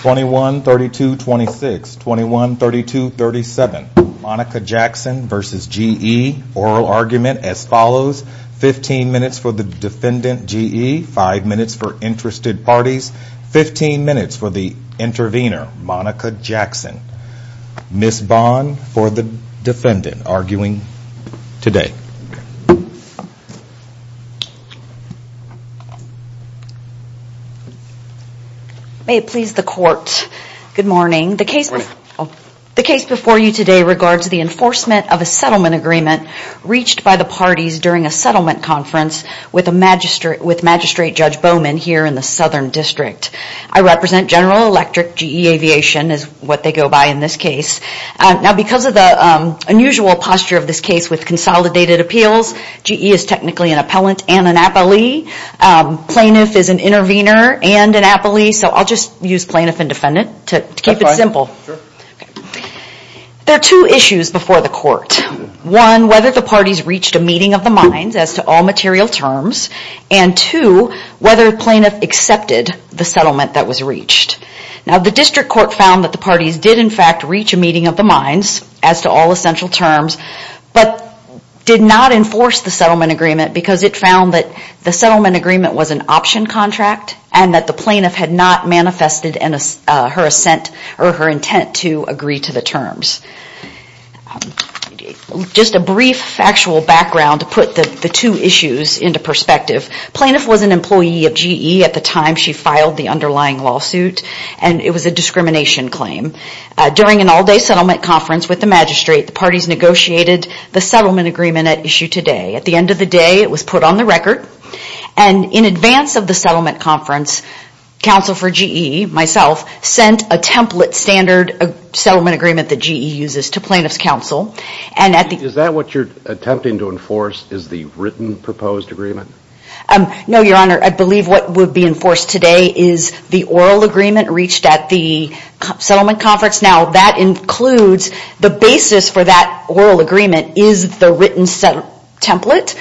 21, 32, 26, 21, 32, 37. Monica Jackson versus GE. Oral argument as follows. 15 minutes for the defendant, GE. 5 minutes for interested parties. 15 minutes for the intervener, Monica Jackson. Miss Bond for the defendant arguing today. May it please the court. Good morning. The case before you today regards the enforcement of a settlement agreement reached by the parties during a settlement conference with Magistrate Judge Bowman here in the Southern District. I represent General Electric, GE Aviation is what they go by in this case. Now because of the unusual posture of this case with consolidated appeals, GE is technically an appellant and an appellee. Plaintiff is an intervener and an appellee. So I'll just use plaintiff and defendant to keep it simple. There are two issues before the court. One, whether the parties reached a meeting of the minds as to all material terms. And two, whether the plaintiff accepted the settlement that was reached. Now the district court found that the parties did in fact reach a meeting of the minds as to all essential terms, but did not enforce the settlement agreement because it found that the settlement agreement was an option contract and that the plaintiff had not manifested her intent to agree to the terms. Just a brief factual background to put the two issues into perspective. Plaintiff was an employee of GE at the time she filed the underlying lawsuit and it was a discrimination claim. During an all-day settlement conference with the magistrate, the parties negotiated the settlement agreement at issue today. At the end of the day it was put on the record and in advance of the settlement conference, counsel for GE, myself, sent a template standard settlement agreement that GE uses to plaintiff's counsel. Is that what you're attempting to enforce is the written proposed agreement? No, Your Honor. I believe what would be enforced today is the oral agreement reached at the settlement conference. Now that includes the basis for that oral agreement is the written template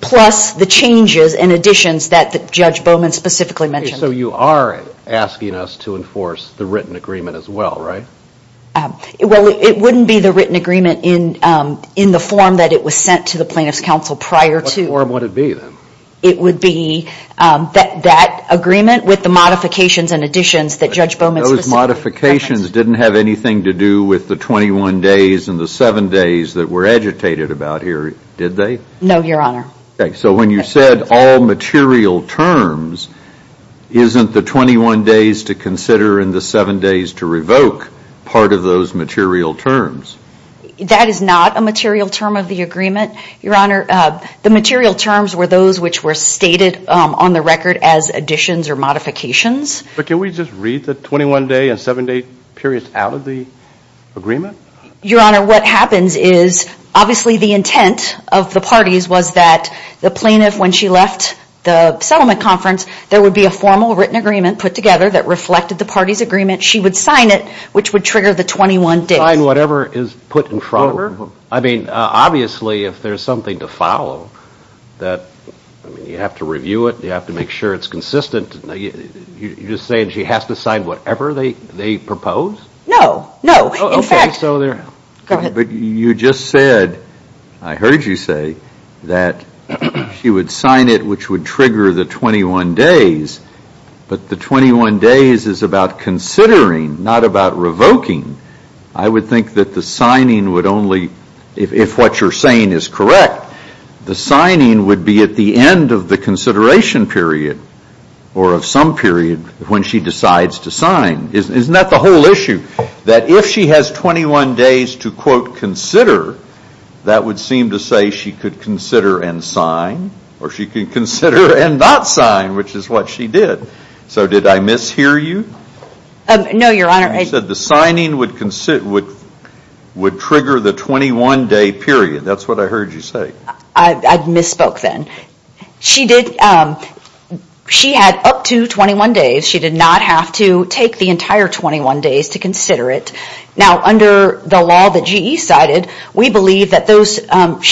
plus the changes and additions that Judge Bowman specifically mentioned. So you are asking us to enforce the written agreement as well, right? Well, it wouldn't be the written agreement in the form that it was sent to the plaintiff's counsel prior to. It would be that agreement with the modifications and additions that Judge Bowman specifically mentioned. Those modifications didn't have anything to do with the 21 days and the 7 days that were agitated about here, did they? No, Your Honor. So when you said all material terms, isn't the 21 days to consider and the 7 days to revoke part of those material terms? That is not a material term of the agreement, Your Honor. The material terms were those which were stated on the record as additions or modifications. But can we just read the 21 day and 7 day periods out of the agreement? Your Honor, what happens is obviously the intent of the parties was that the plaintiff, when she left the settlement conference, there would be a formal written agreement put together that reflected the party's agreement. She would sign it, which would trigger the 21 days. She would sign whatever is put in front of her? Whatever. I mean, obviously, if there's something to follow that, I mean, you have to review it, you have to make sure it's consistent. You're just saying she has to sign whatever they propose? No, no. In fact... Okay, so there... Go ahead. But you just said, I heard you say, that she would sign it, which would trigger the 21 days. But the 21 days is about considering, not about revoking. I would think that the signing would only, if what you're saying is correct, the signing would be at the end of the consideration period or of some period when she decides to sign. Isn't that the whole issue? That if she has 21 days to, quote, consider, that would seem to say she could consider and sign, or she could consider and not sign, which is what she did. So did I mishear you? No, Your Honor. You said the signing would trigger the 21 day period. That's what I heard you say. I misspoke then. She had up to 21 days. She did not have to take the entire 21 days to consider it. Now, under the law that GE cited, we believe that the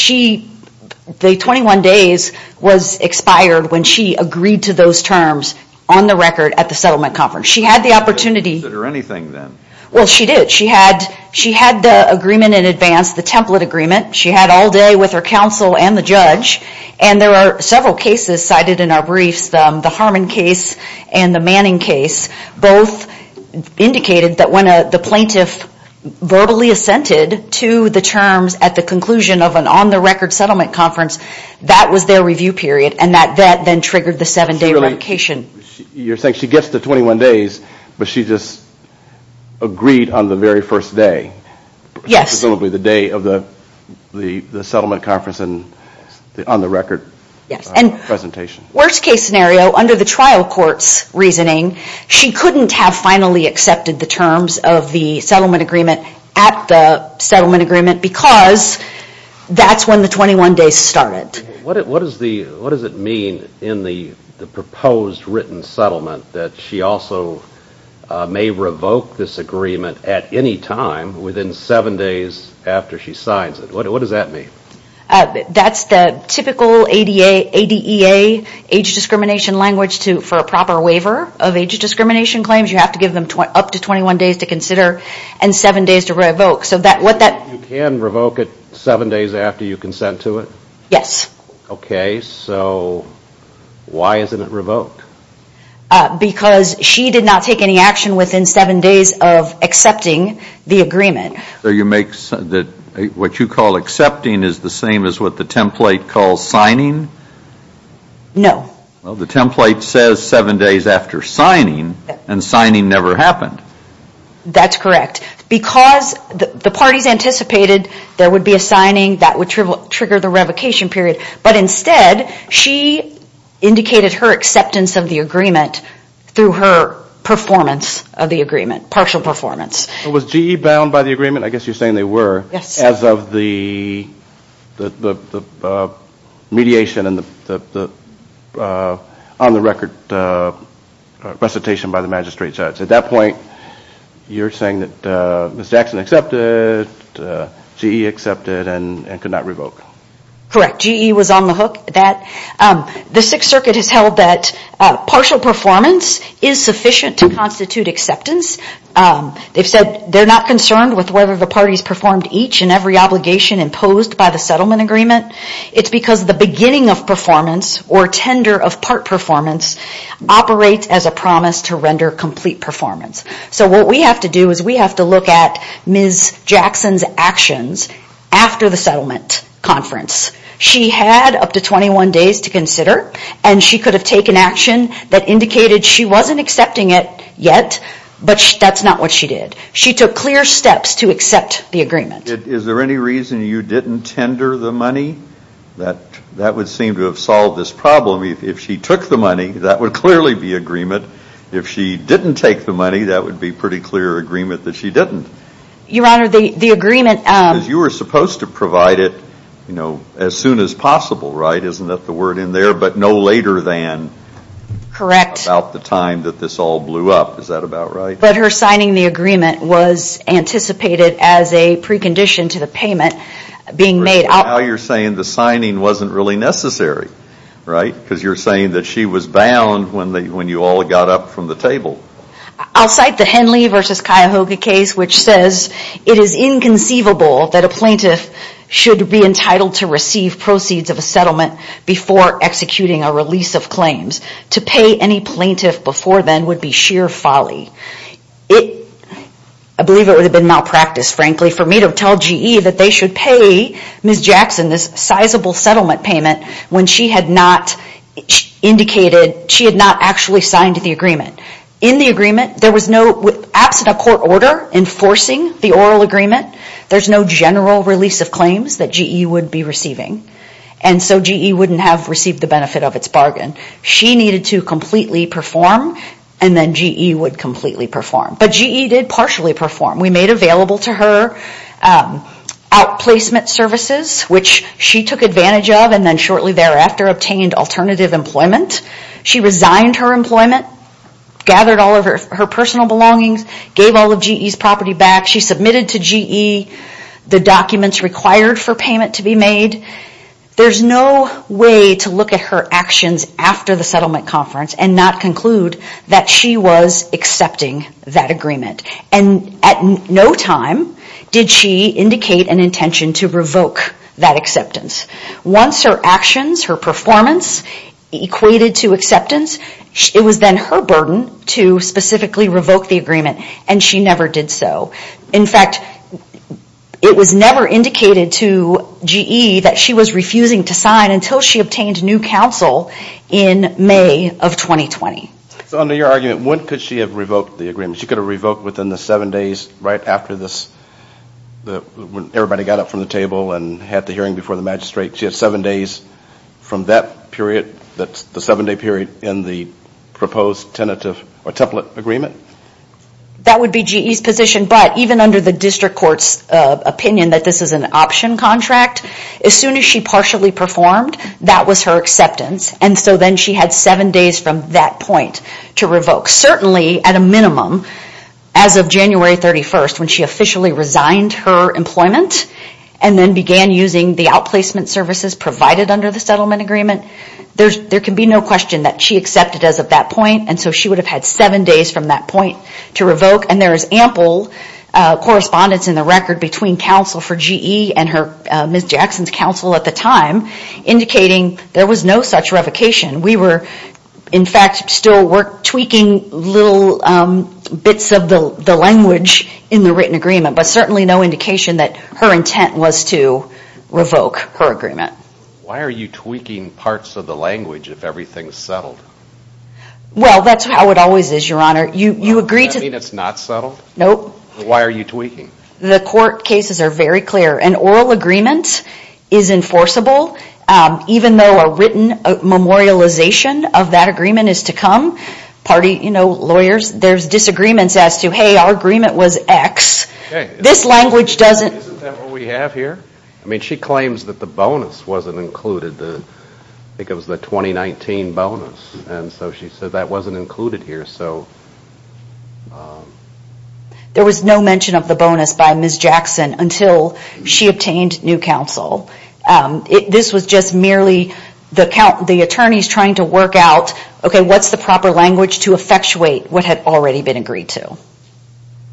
21 days was expired when she agreed to those terms on the record at the settlement conference. She had the opportunity... She didn't consider anything then. Well, she did. She had the agreement in advance, the template agreement. She had all day with her counsel and the judge. And there are several cases cited in our briefs, the Harmon case and the Manning case, both indicated that when the plaintiff verbally assented to the terms at the conclusion of an on-the-record settlement conference, that was their review period, and that then triggered the seven-day revocation. You're saying she gets the 21 days, but she just agreed on the very first day? Yes. Presumably the day of the settlement conference and the on-the-record presentation. Yes. And worst-case scenario, under the trial court's reasoning, she couldn't have finally accepted the terms of the settlement agreement at the settlement agreement because that's when the 21 days started. What does it mean in the proposed written settlement that she also may revoke this agreement at any time within seven days after she signs it? What does that mean? That's the typical ADEA age discrimination language for a proper waiver of age discrimination claims. You have to give them up to 21 days to consider and seven days to revoke. You can revoke it seven days after you consent to it? Yes. Okay, so why isn't it revoked? Because she did not take any action within seven days of accepting the agreement. So what you call accepting is the same as what the template calls signing? No. Well, the template says seven days after signing, and signing never happened. That's correct. Because the parties anticipated there would be a signing that would trigger the revocation period, but instead she indicated her acceptance of the agreement through her performance of the agreement, partial performance. Was GE bound by the agreement? I guess you're saying they were. Yes. As of the mediation and the on-the-record recitation by the magistrate judge. At that point, you're saying that Ms. Jackson accepted, GE accepted, and could not revoke? Correct. GE was on the hook. The Sixth Circuit has held that partial performance is sufficient to constitute acceptance. They've said they're not concerned with whether the parties performed each and every obligation imposed by the settlement agreement. It's because the beginning of performance, or tender of part performance, operates as a promise to render complete performance. So what we have to do is we have to look at Ms. Jackson's actions after the settlement conference. She had up to 21 days to consider, and she could have taken action that indicated she wasn't accepting it yet, but that's not what she did. She took clear steps to accept the agreement. Is there any reason you didn't tender the money? That would seem to have solved this problem. If she took the money, that would clearly be agreement. If she didn't take the money, that would be pretty clear agreement that she didn't. Your Honor, the agreement— Because you were supposed to provide it as soon as possible, right? Isn't that the word in there? But no later than— Correct. —about the time that this all blew up. Is that about right? But her signing the agreement was anticipated as a precondition to the payment being made— But now you're saying the signing wasn't really necessary, right? Because you're saying that she was bound when you all got up from the table. I'll cite the Henley v. Cuyahoga case, which says, It is inconceivable that a plaintiff should be entitled to receive proceeds of a settlement before executing a release of claims. To pay any plaintiff before then would be sheer folly. I believe it would have been malpractice, frankly, for me to tell GE that they should pay Ms. Jackson this sizable settlement payment when she had not actually signed the agreement. In the agreement, there was no— Absent a court order enforcing the oral agreement, there's no general release of claims that GE would be receiving. And so GE wouldn't have received the benefit of its bargain. She needed to completely perform, and then GE would completely perform. But GE did partially perform. We made available to her outplacement services, which she took advantage of and then shortly thereafter obtained alternative employment. She resigned her employment, gathered all of her personal belongings, gave all of GE's property back. She submitted to GE the documents required for payment to be made. There's no way to look at her actions after the settlement conference and not conclude that she was accepting that agreement. And at no time did she indicate an intention to revoke that acceptance. Once her actions, her performance equated to acceptance, it was then her burden to specifically revoke the agreement, and she never did so. In fact, it was never indicated to GE that she was refusing to sign until she obtained new counsel in May of 2020. So under your argument, when could she have revoked the agreement? She could have revoked within the seven days right after this, when everybody got up from the table and had the hearing before the magistrate. She had seven days from that period, that's the seven-day period in the proposed tentative or template agreement? That would be GE's position. But even under the district court's opinion that this is an option contract, as soon as she partially performed, that was her acceptance. And so then she had seven days from that point to revoke. Certainly, at a minimum, as of January 31st, when she officially resigned her employment and then began using the outplacement services provided under the settlement agreement, there can be no question that she accepted as of that point, and so she would have had seven days from that point to revoke. And there is ample correspondence in the record between counsel for GE and Ms. Jackson's counsel at the time, indicating there was no such revocation. We were, in fact, still tweaking little bits of the language in the written agreement, but certainly no indication that her intent was to revoke her agreement. Why are you tweaking parts of the language if everything is settled? Well, that's how it always is, Your Honor. Does that mean it's not settled? Nope. Why are you tweaking? The court cases are very clear. An oral agreement is enforceable, even though a written memorialization of that agreement is to come. You know, lawyers, there's disagreements as to, hey, our agreement was X. This language doesn't... Isn't that what we have here? I mean, she claims that the bonus wasn't included. I think it was the 2019 bonus, and so she said that wasn't included here. There was no mention of the bonus by Ms. Jackson until she obtained new counsel. This was just merely the attorneys trying to work out, okay, what's the proper language to effectuate what had already been agreed to?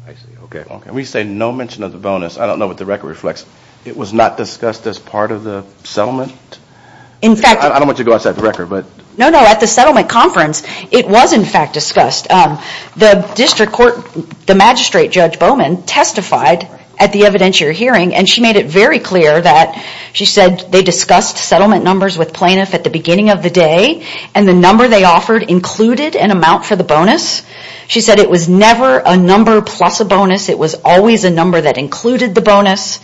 I see. Okay. We say no mention of the bonus. I don't know what the record reflects. It was not discussed as part of the settlement? In fact... I don't want you to go outside the record, but... No, no. At the settlement conference, it was, in fact, discussed. The district court, the magistrate, Judge Bowman, testified at the evidentiary hearing, and she made it very clear that, she said, they discussed settlement numbers with plaintiff at the beginning of the day, and the number they offered included an amount for the bonus. She said it was never a number plus a bonus. It was always a number that included the bonus.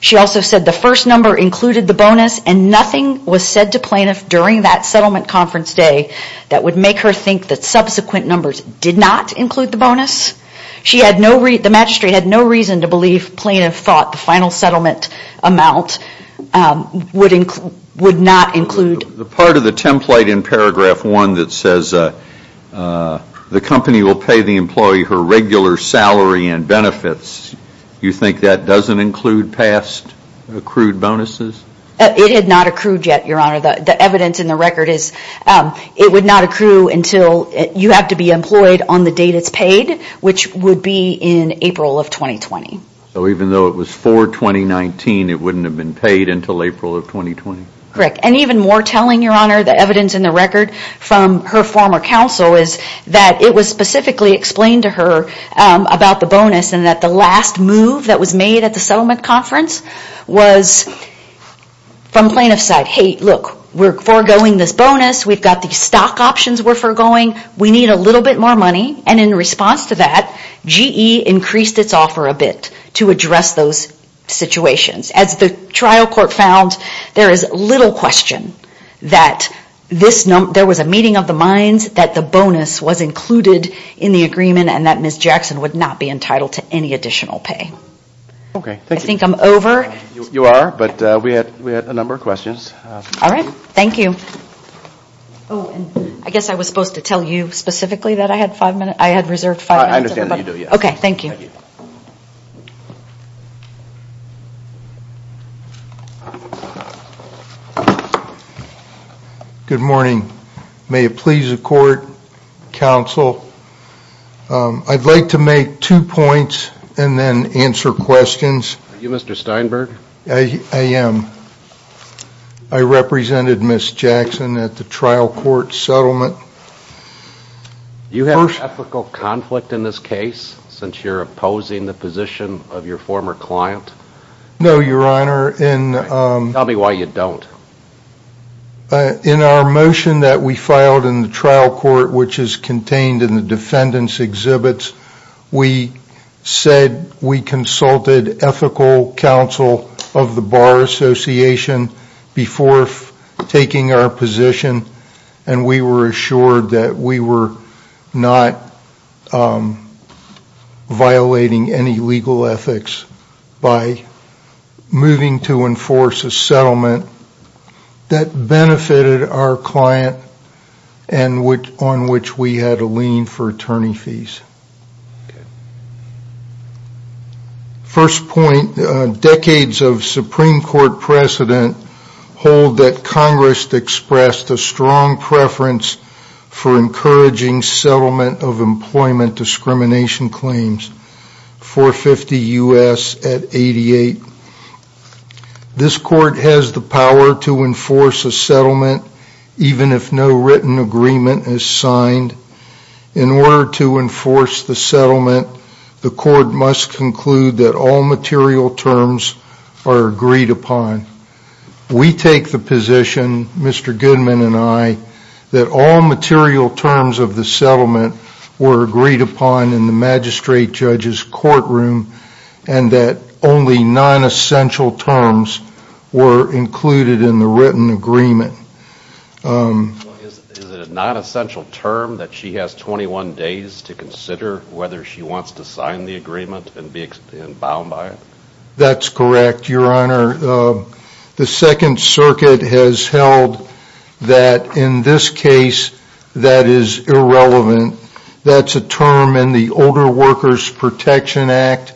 She also said the first number included the bonus, and nothing was said to plaintiff during that settlement conference day that would make her think that subsequent numbers did not include the bonus. The magistrate had no reason to believe plaintiff thought the final settlement amount would not include... The part of the template in paragraph one that says, you think that doesn't include past accrued bonuses? It had not accrued yet, Your Honor. The evidence in the record is, it would not accrue until you have to be employed on the date it's paid, which would be in April of 2020. So even though it was for 2019, it wouldn't have been paid until April of 2020? Correct. And even more telling, Your Honor, the evidence in the record from her former counsel is that it was specifically explained to her about the bonus, and that the last move that was made at the settlement conference was from plaintiff's side. Hey, look, we're foregoing this bonus. We've got the stock options we're foregoing. We need a little bit more money. And in response to that, GE increased its offer a bit to address those situations. As the trial court found, there is little question that there was a meeting of the minds that the bonus was included in the agreement and that Ms. Jackson would not be entitled to any additional pay. Okay. Thank you. I think I'm over. You are, but we had a number of questions. All right. Thank you. Oh, and I guess I was supposed to tell you specifically that I had five minutes. I had reserved five minutes. I understand that you do, yes. Okay. Thank you. Good morning. May it please the court, counsel. I'd like to make two points and then answer questions. Are you Mr. Steinberg? I am. I represented Ms. Jackson at the trial court settlement. Do you have ethical conflict in this case since you're opposing the position of your former client? No, Your Honor. Tell me why you don't. In our motion that we filed in the trial court, which is contained in the defendant's exhibits, we said we consulted ethical counsel of the Bar Association before taking our position, and we were assured that we were not violating any legal ethics by moving to enforce a settlement that benefited our client and on which we had a lien for attorney fees. First point, decades of Supreme Court precedent hold that Congress expressed a strong preference for encouraging settlement of employment discrimination claims for 50 U.S. at 88. This court has the power to enforce a settlement even if no written agreement is signed. In order to enforce the settlement, the court must conclude that all material terms are agreed upon. We take the position, Mr. Goodman and I, that all material terms of the settlement were agreed upon in the magistrate judge's courtroom and that only nonessential terms were included in the written agreement. Is it a nonessential term that she has 21 days to consider whether she wants to sign the agreement and be bound by it? That's correct, Your Honor. The Second Circuit has held that in this case that is irrelevant. That's a term in the Older Workers Protection Act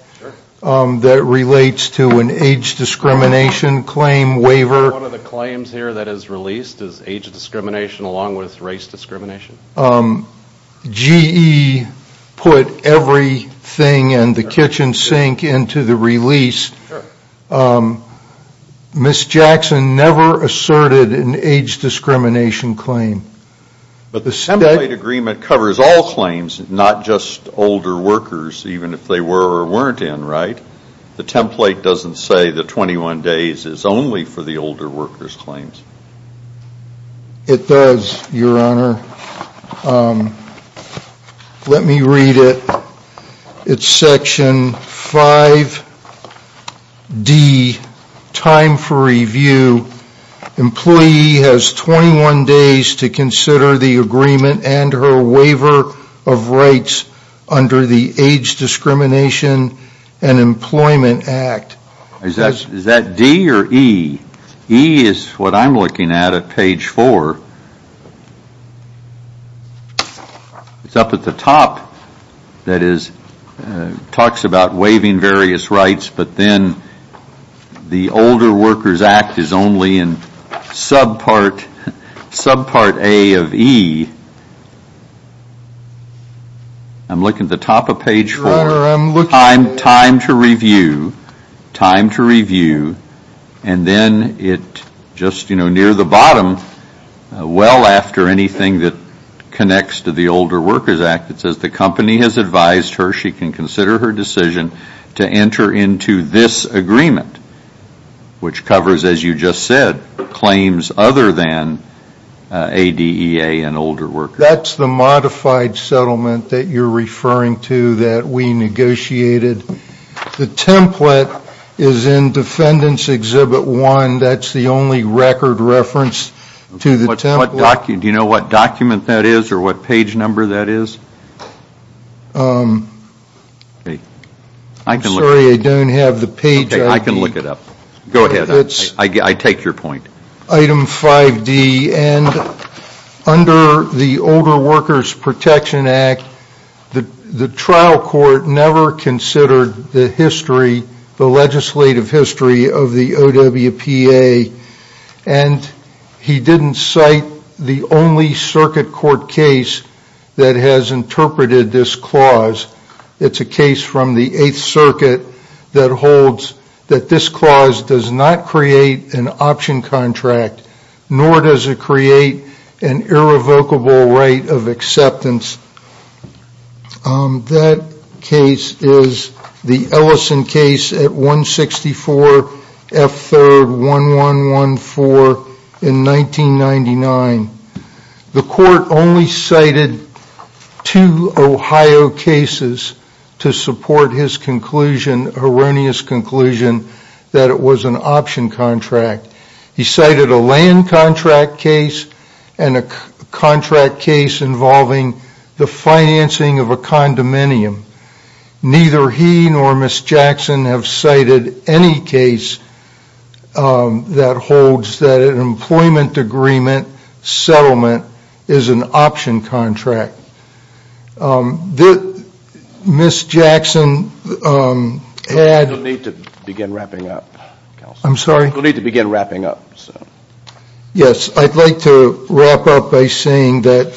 that relates to an age discrimination claim waiver. One of the claims here that is released is age discrimination along with race discrimination. GE put everything in the kitchen sink into the release. Ms. Jackson never asserted an age discrimination claim. The template agreement covers all claims, not just older workers, even if they were or weren't in, right? The template doesn't say that 21 days is only for the older workers' claims. It does, Your Honor. Let me read it. It's Section 5D, Time for Review. Employee has 21 days to consider the agreement and her waiver of rights under the Age Discrimination and Employment Act. Is that D or E? E is what I'm looking at at page 4. It's up at the top that talks about waiving various rights, but then the Older Workers Act is only in subpart A of E. I'm looking at the top of page 4. Time to review, time to review, and then just near the bottom, well after anything that connects to the Older Workers Act, it says the company has advised her she can consider her decision to enter into this agreement, which covers, as you just said, claims other than ADEA and older workers. That's the modified settlement that you're referring to that we negotiated. The template is in Defendants Exhibit 1. That's the only record reference to the template. Do you know what document that is or what page number that is? I'm sorry, I don't have the page. I can look it up. Go ahead. I take your point. Item 5D. Under the Older Workers Protection Act, the trial court never considered the legislative history of the OWPA, and he didn't cite the only circuit court case that has interpreted this clause. It's a case from the 8th Circuit that holds that this clause does not create an option contract, nor does it create an irrevocable right of acceptance. That case is the Ellison case at 164 F 3rd 1114 in 1999. The court only cited two Ohio cases to support his conclusion, erroneous conclusion, that it was an option contract. He cited a land contract case and a contract case involving the financing of a condominium. Neither he nor Ms. Jackson have cited any case that holds that an employment agreement settlement is an option contract. Ms. Jackson had- You'll need to begin wrapping up, Counsel. I'm sorry? You'll need to begin wrapping up. Yes, I'd like to wrap up by saying that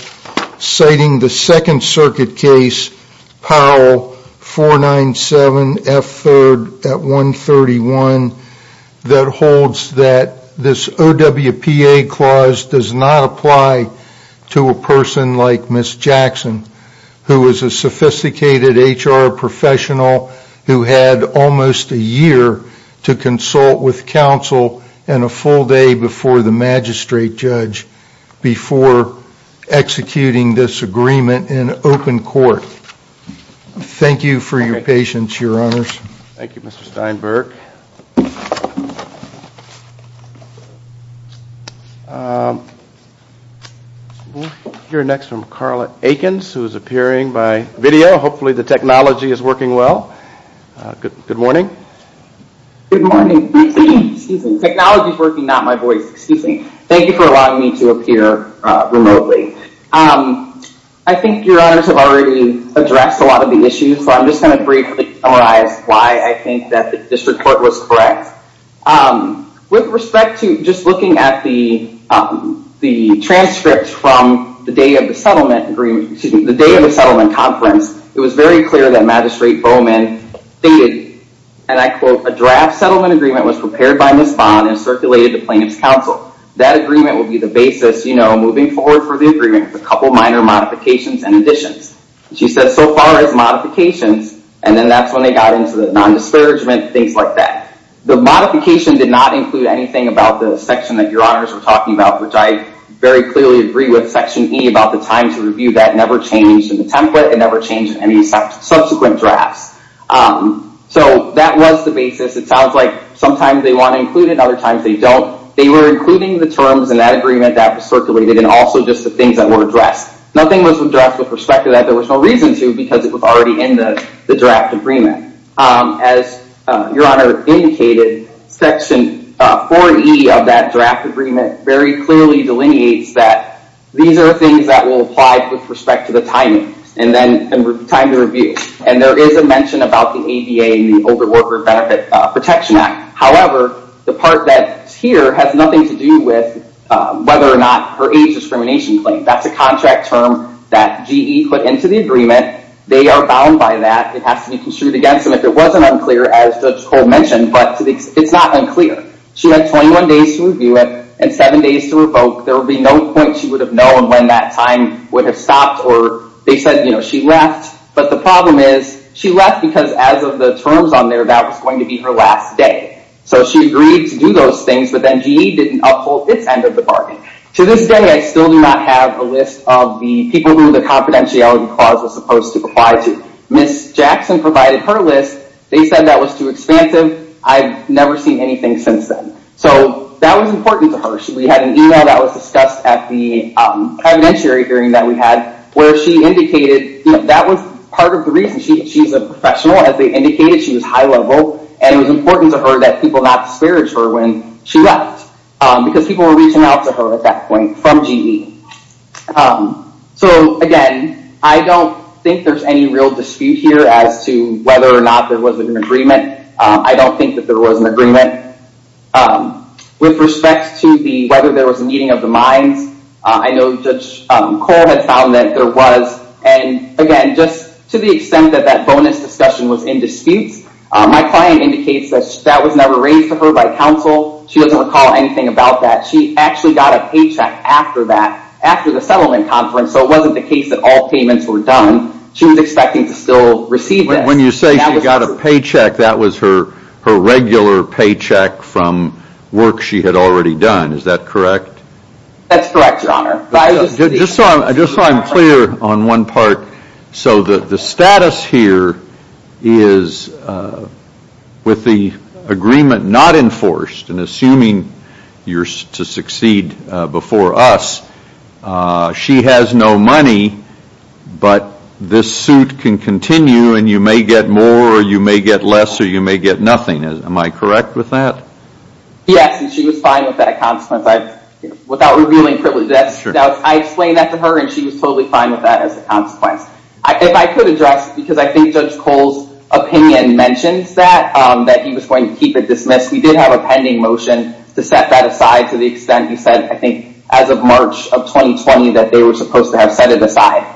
citing the 2nd Circuit case, Powell 497 F 3rd at 131, that holds that this OWPA clause does not apply to a person like Ms. Jackson, who is a sophisticated HR professional who had almost a year to consult with counsel and a full day before the magistrate judge before executing this agreement in open court. Thank you for your patience, Your Honors. Thank you, Mr. Steinberg. We'll hear next from Carla Aikens, who is appearing by video. Hopefully the technology is working well. Good morning. Good morning. Technology is working, not my voice. Thank you for allowing me to appear remotely. I think Your Honors have already addressed a lot of the issues, so I'm just going to briefly summarize why I think that this report was correct. With respect to just looking at the transcript from the day of the settlement conference, it was very clear that Magistrate Bowman stated, and I quote, a draft settlement agreement was prepared by Ms. Bond and circulated to plaintiff's counsel. That agreement would be the basis, you know, moving forward for the agreement, a couple minor modifications and additions. She said so far as modifications, and then that's when they got into the non-discouragement, things like that. The modification did not include anything about the section that Your Honors were talking about, which I very clearly agree with, section E, about the time to review. That never changed in the template. It never changed in any subsequent drafts. So that was the basis. It sounds like sometimes they want to include it and other times they don't. They were including the terms in that agreement that was circulated and also just the things that were addressed. Nothing was addressed with respect to that. There was no reason to because it was already in the draft agreement. As Your Honor indicated, section 4E of that draft agreement very clearly delineates that these are things that will apply with respect to the timing and time to review. And there is a mention about the ADA and the Older Worker Benefit Protection Act. However, the part that's here has nothing to do with whether or not her age discrimination claim. That's a contract term that GE put into the agreement. They are bound by that. It has to be construed against them. If it wasn't unclear, as Judge Cole mentioned, but it's not unclear. She had 21 days to review it and seven days to revoke. There would be no point she would have known when that time would have stopped. They said she left, but the problem is she left because as of the terms on there, that was going to be her last day. So she agreed to do those things, but then GE didn't uphold its end of the bargain. To this day, I still do not have a list of the people who the confidentiality clause was supposed to apply to. Ms. Jackson provided her list. They said that was too expansive. I've never seen anything since then. So that was important to her. We had an email that was discussed at the evidentiary hearing that we had where she indicated that was part of the reason. She's a professional, as they indicated. She was high level, and it was important to her that people not disparage her when she left because people were reaching out to her at that point from GE. So again, I don't think there's any real dispute here as to whether or not there was an agreement. I don't think that there was an agreement. With respect to whether there was a meeting of the minds, I know Judge Cole had found that there was, and again, just to the extent that that bonus discussion was in dispute, my client indicates that that was never raised to her by counsel. She doesn't recall anything about that. She actually got a paycheck after that, after the settlement conference, so it wasn't the case that all payments were done. She was expecting to still receive this. When you say she got a paycheck, that was her regular paycheck from work she had already done. Is that correct? That's correct, Your Honor. Just so I'm clear on one part, so the status here is with the agreement not enforced, and assuming you're to succeed before us, she has no money, but this suit can continue and you may get more or you may get less or you may get nothing. Am I correct with that? Yes, and she was fine with that consequence. Without revealing privilege, I explained that to her, and she was totally fine with that as a consequence. If I could address, because I think Judge Cole's opinion mentions that, that he was going to keep it dismissed, we did have a pending motion to set that aside to the extent he said, I think, as of March of 2020, that they were supposed to have set it aside.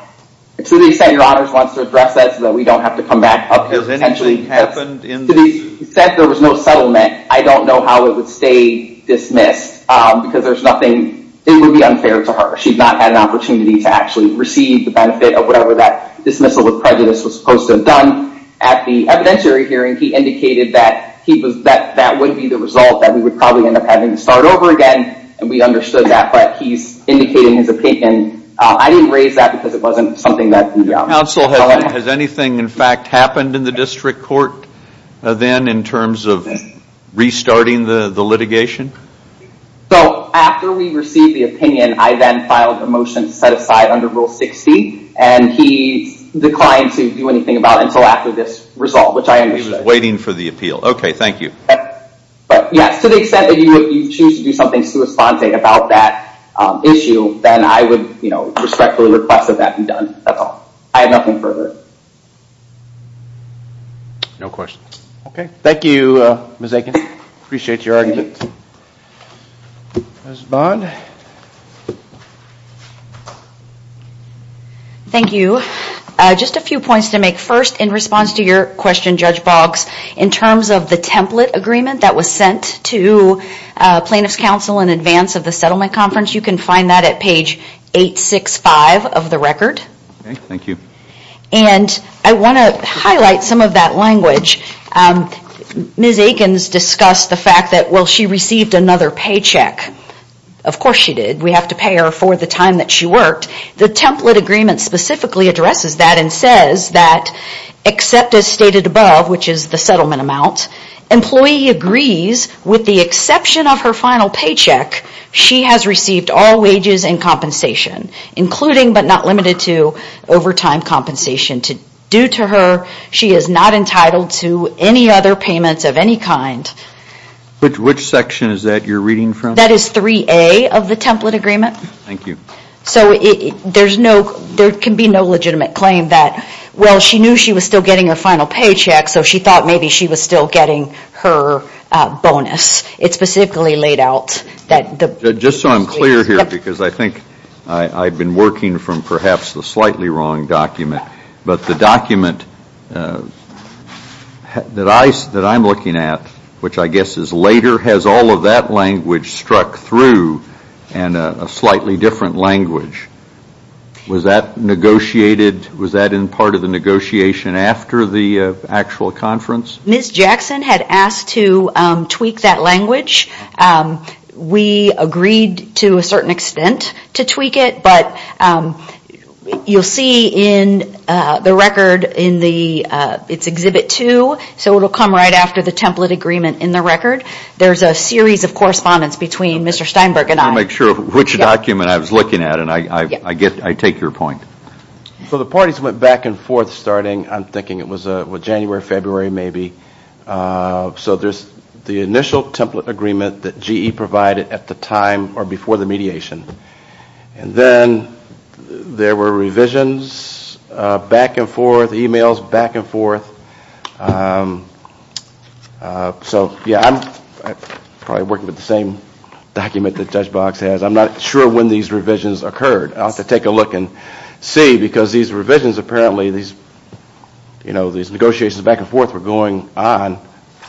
To the extent Your Honor wants to address that so that we don't have to come back up here. Has anything happened in this? To the extent there was no settlement, I don't know how it would stay dismissed because there's nothing, it would be unfair to her. She's not had an opportunity to actually receive the benefit of whatever that dismissal of prejudice was supposed to have done. At the evidentiary hearing, he indicated that that would be the result, that we would probably end up having to start over again, and we understood that, but he's indicating his opinion. I didn't raise that because it wasn't something that we... Counsel, has anything, in fact, happened in the district court, then, in terms of restarting the litigation? After we received the opinion, I then filed a motion to set aside under Rule 60, and he declined to do anything about it until after this result, which I understood. He was waiting for the appeal. Okay, thank you. Yes, to the extent that you choose to do something sui sponte about that issue, then I would respectfully request that that be done. That's all. I have nothing further. No questions. Okay, thank you, Ms. Aiken. Appreciate your argument. Ms. Bond? Thank you. Just a few points to make. First, in response to your question, Judge Boggs, in terms of the template agreement that was sent to plaintiff's counsel in advance of the settlement conference, you can find that at page 865 of the record. Okay, thank you. And I want to highlight some of that language. Ms. Aiken's discussed the fact that, well, she received another paycheck. Of course she did. We have to pay her for the time that she worked. The template agreement specifically addresses that and says that, except as stated above, which is the settlement amount, employee agrees with the exception of her final paycheck, she has received all wages and compensation, including but not limited to overtime compensation. Due to her, she is not entitled to any other payments of any kind. Which section is that you're reading from? That is 3A of the template agreement. Thank you. So there can be no legitimate claim that, well, she knew she was still getting her final paycheck, so she thought maybe she was still getting her bonus. It's specifically laid out. Just so I'm clear here, because I think I've been working from perhaps the slightly wrong document, but the document that I'm looking at, which I guess is later, has all of that language struck through in a slightly different language. Was that negotiated, was that in part of the negotiation after the actual conference? Ms. Jackson had asked to tweak that language. We agreed to a certain extent to tweak it, but you'll see in the record, it's Exhibit 2, so it will come right after the template agreement in the record. There's a series of correspondence between Mr. Steinberg and I. I just want to make sure which document I was looking at, and I take your point. So the parties went back and forth starting, I'm thinking it was January, February maybe. So there's the initial template agreement that GE provided at the time or before the mediation, and then there were revisions back and forth, emails back and forth. So yeah, I'm probably working with the same document that Judge Box has. I'm not sure when these revisions occurred. I'll have to take a look and see, because these revisions apparently, these negotiations back and forth were going on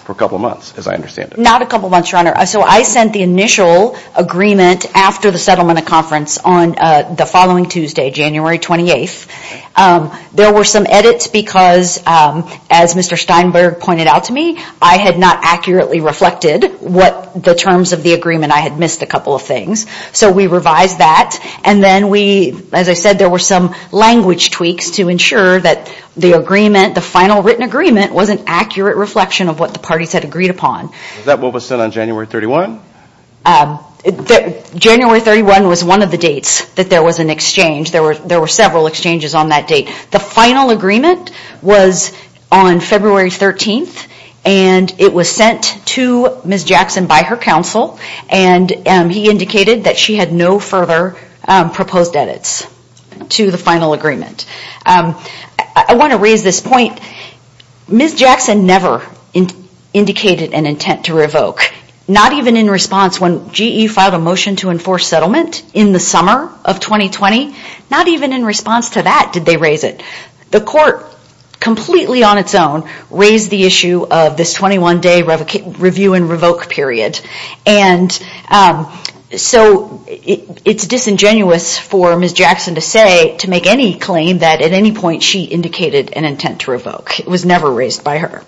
for a couple months as I understand it. Not a couple months, Your Honor. So I sent the initial agreement after the settlement of conference on the following Tuesday, January 28th. There were some edits because, as Mr. Steinberg pointed out to me, I had not accurately reflected what the terms of the agreement, I had missed a couple of things. So we revised that, and then we, as I said, there were some language tweaks to ensure that the agreement, the final written agreement was an accurate reflection of what the parties had agreed upon. Was that what was sent on January 31? January 31 was one of the dates that there was an exchange. There were several exchanges on that date. The final agreement was on February 13th, and it was sent to Ms. Jackson by her counsel, and he indicated that she had no further proposed edits to the final agreement. I want to raise this point. Ms. Jackson never indicated an intent to revoke. Not even in response when GE filed a motion to enforce settlement in the summer of 2020, not even in response to that did they raise it. The court, completely on its own, raised the issue of this 21-day review and revoke period. And so it's disingenuous for Ms. Jackson to say, to make any claim, that at any point she indicated an intent to revoke. It was never raised by her.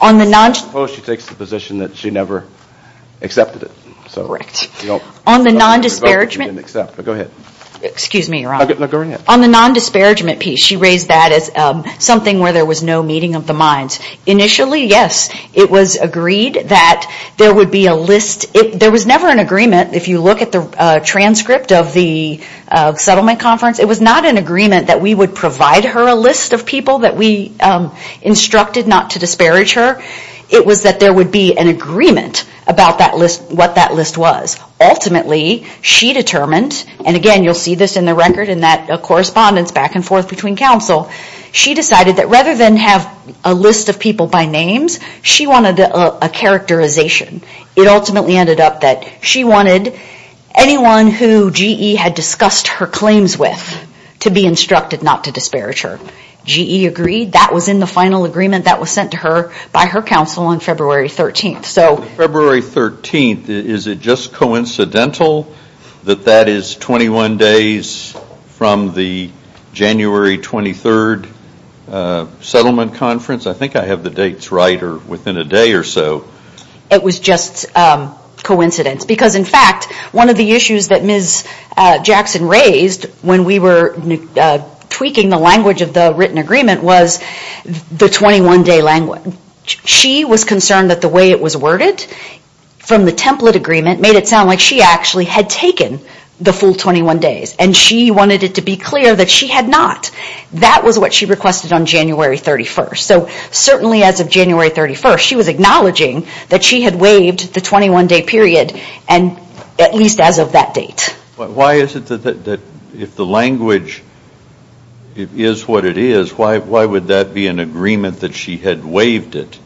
Suppose she takes the position that she never accepted it. Correct. On the non-disparagement piece, she raised that as something where there was no meeting of the minds. Initially, yes, it was agreed that there would be a list. There was never an agreement. If you look at the transcript of the settlement conference, it was not an agreement that we would provide her a list of people that we instructed not to disparage her. It was that there would be an agreement about what that list was. Ultimately, she determined, and again you'll see this in the record in that correspondence back and forth between counsel, she decided that rather than have a list of people by names, she wanted a characterization. It ultimately ended up that she wanted anyone who GE had discussed her claims with to be instructed not to disparage her. GE agreed. That was in the final agreement that was sent to her by her counsel on February 13th. February 13th, is it just coincidental that that is 21 days from the January 23rd settlement conference? I think I have the dates right or within a day or so. It was just coincidence. Because in fact, one of the issues that Ms. Jackson raised when we were tweaking the language of the written agreement was the 21-day language. She was concerned that the way it was worded from the template agreement made it sound like she actually had taken the full 21 days and she wanted it to be clear that she had not. That was what she requested on January 31st. So certainly as of January 31st, she was acknowledging that she had waived the 21-day period, at least as of that date. Why is it that if the language is what it is, why would that be an agreement that she had waived it?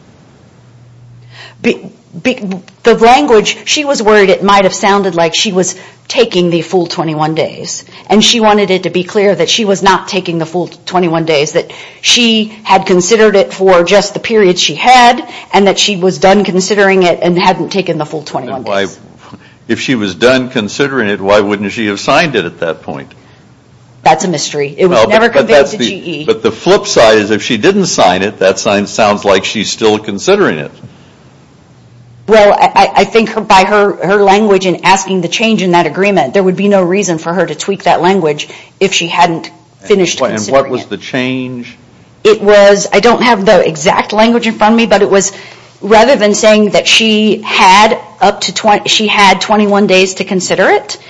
The language, she was worried it might have sounded like she was taking the full 21 days. And she wanted it to be clear that she was not taking the full 21 days, that she had considered it for just the period she had and that she was done considering it and hadn't taken the full 21 days. If she was done considering it, why wouldn't she have signed it at that point? That's a mystery. It was never conveyed to GE. But the flip side is if she didn't sign it, that sounds like she's still considering it. Well, I think by her language in asking the change in that agreement, there would be no reason for her to tweak that language if she hadn't finished considering it. And what was the change? I don't have the exact language in front of me, but it was rather than saying that she had 21 days to consider it,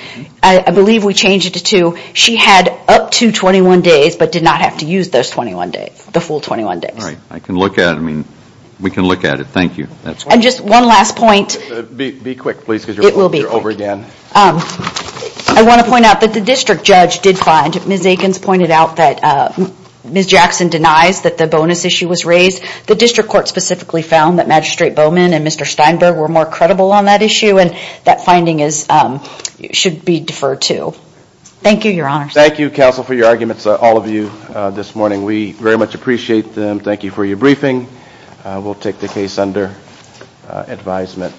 I believe we changed it to she had up to 21 days but did not have to use those 21 days, the full 21 days. Right. I can look at it. I mean, we can look at it. Thank you. And just one last point. Be quick, please, because you're over again. I want to point out that the district judge did find, Ms. Aikens pointed out that Ms. Jackson denies that the bonus issue was raised. The district court specifically found that Magistrate Bowman and Mr. Steinberg were more credible on that issue and that finding should be deferred to. Thank you, Your Honor. Thank you, counsel, for your arguments, all of you this morning. We very much appreciate them. Thank you for your briefing. We'll take the case under advisement.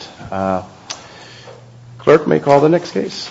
Clerk may call the next case.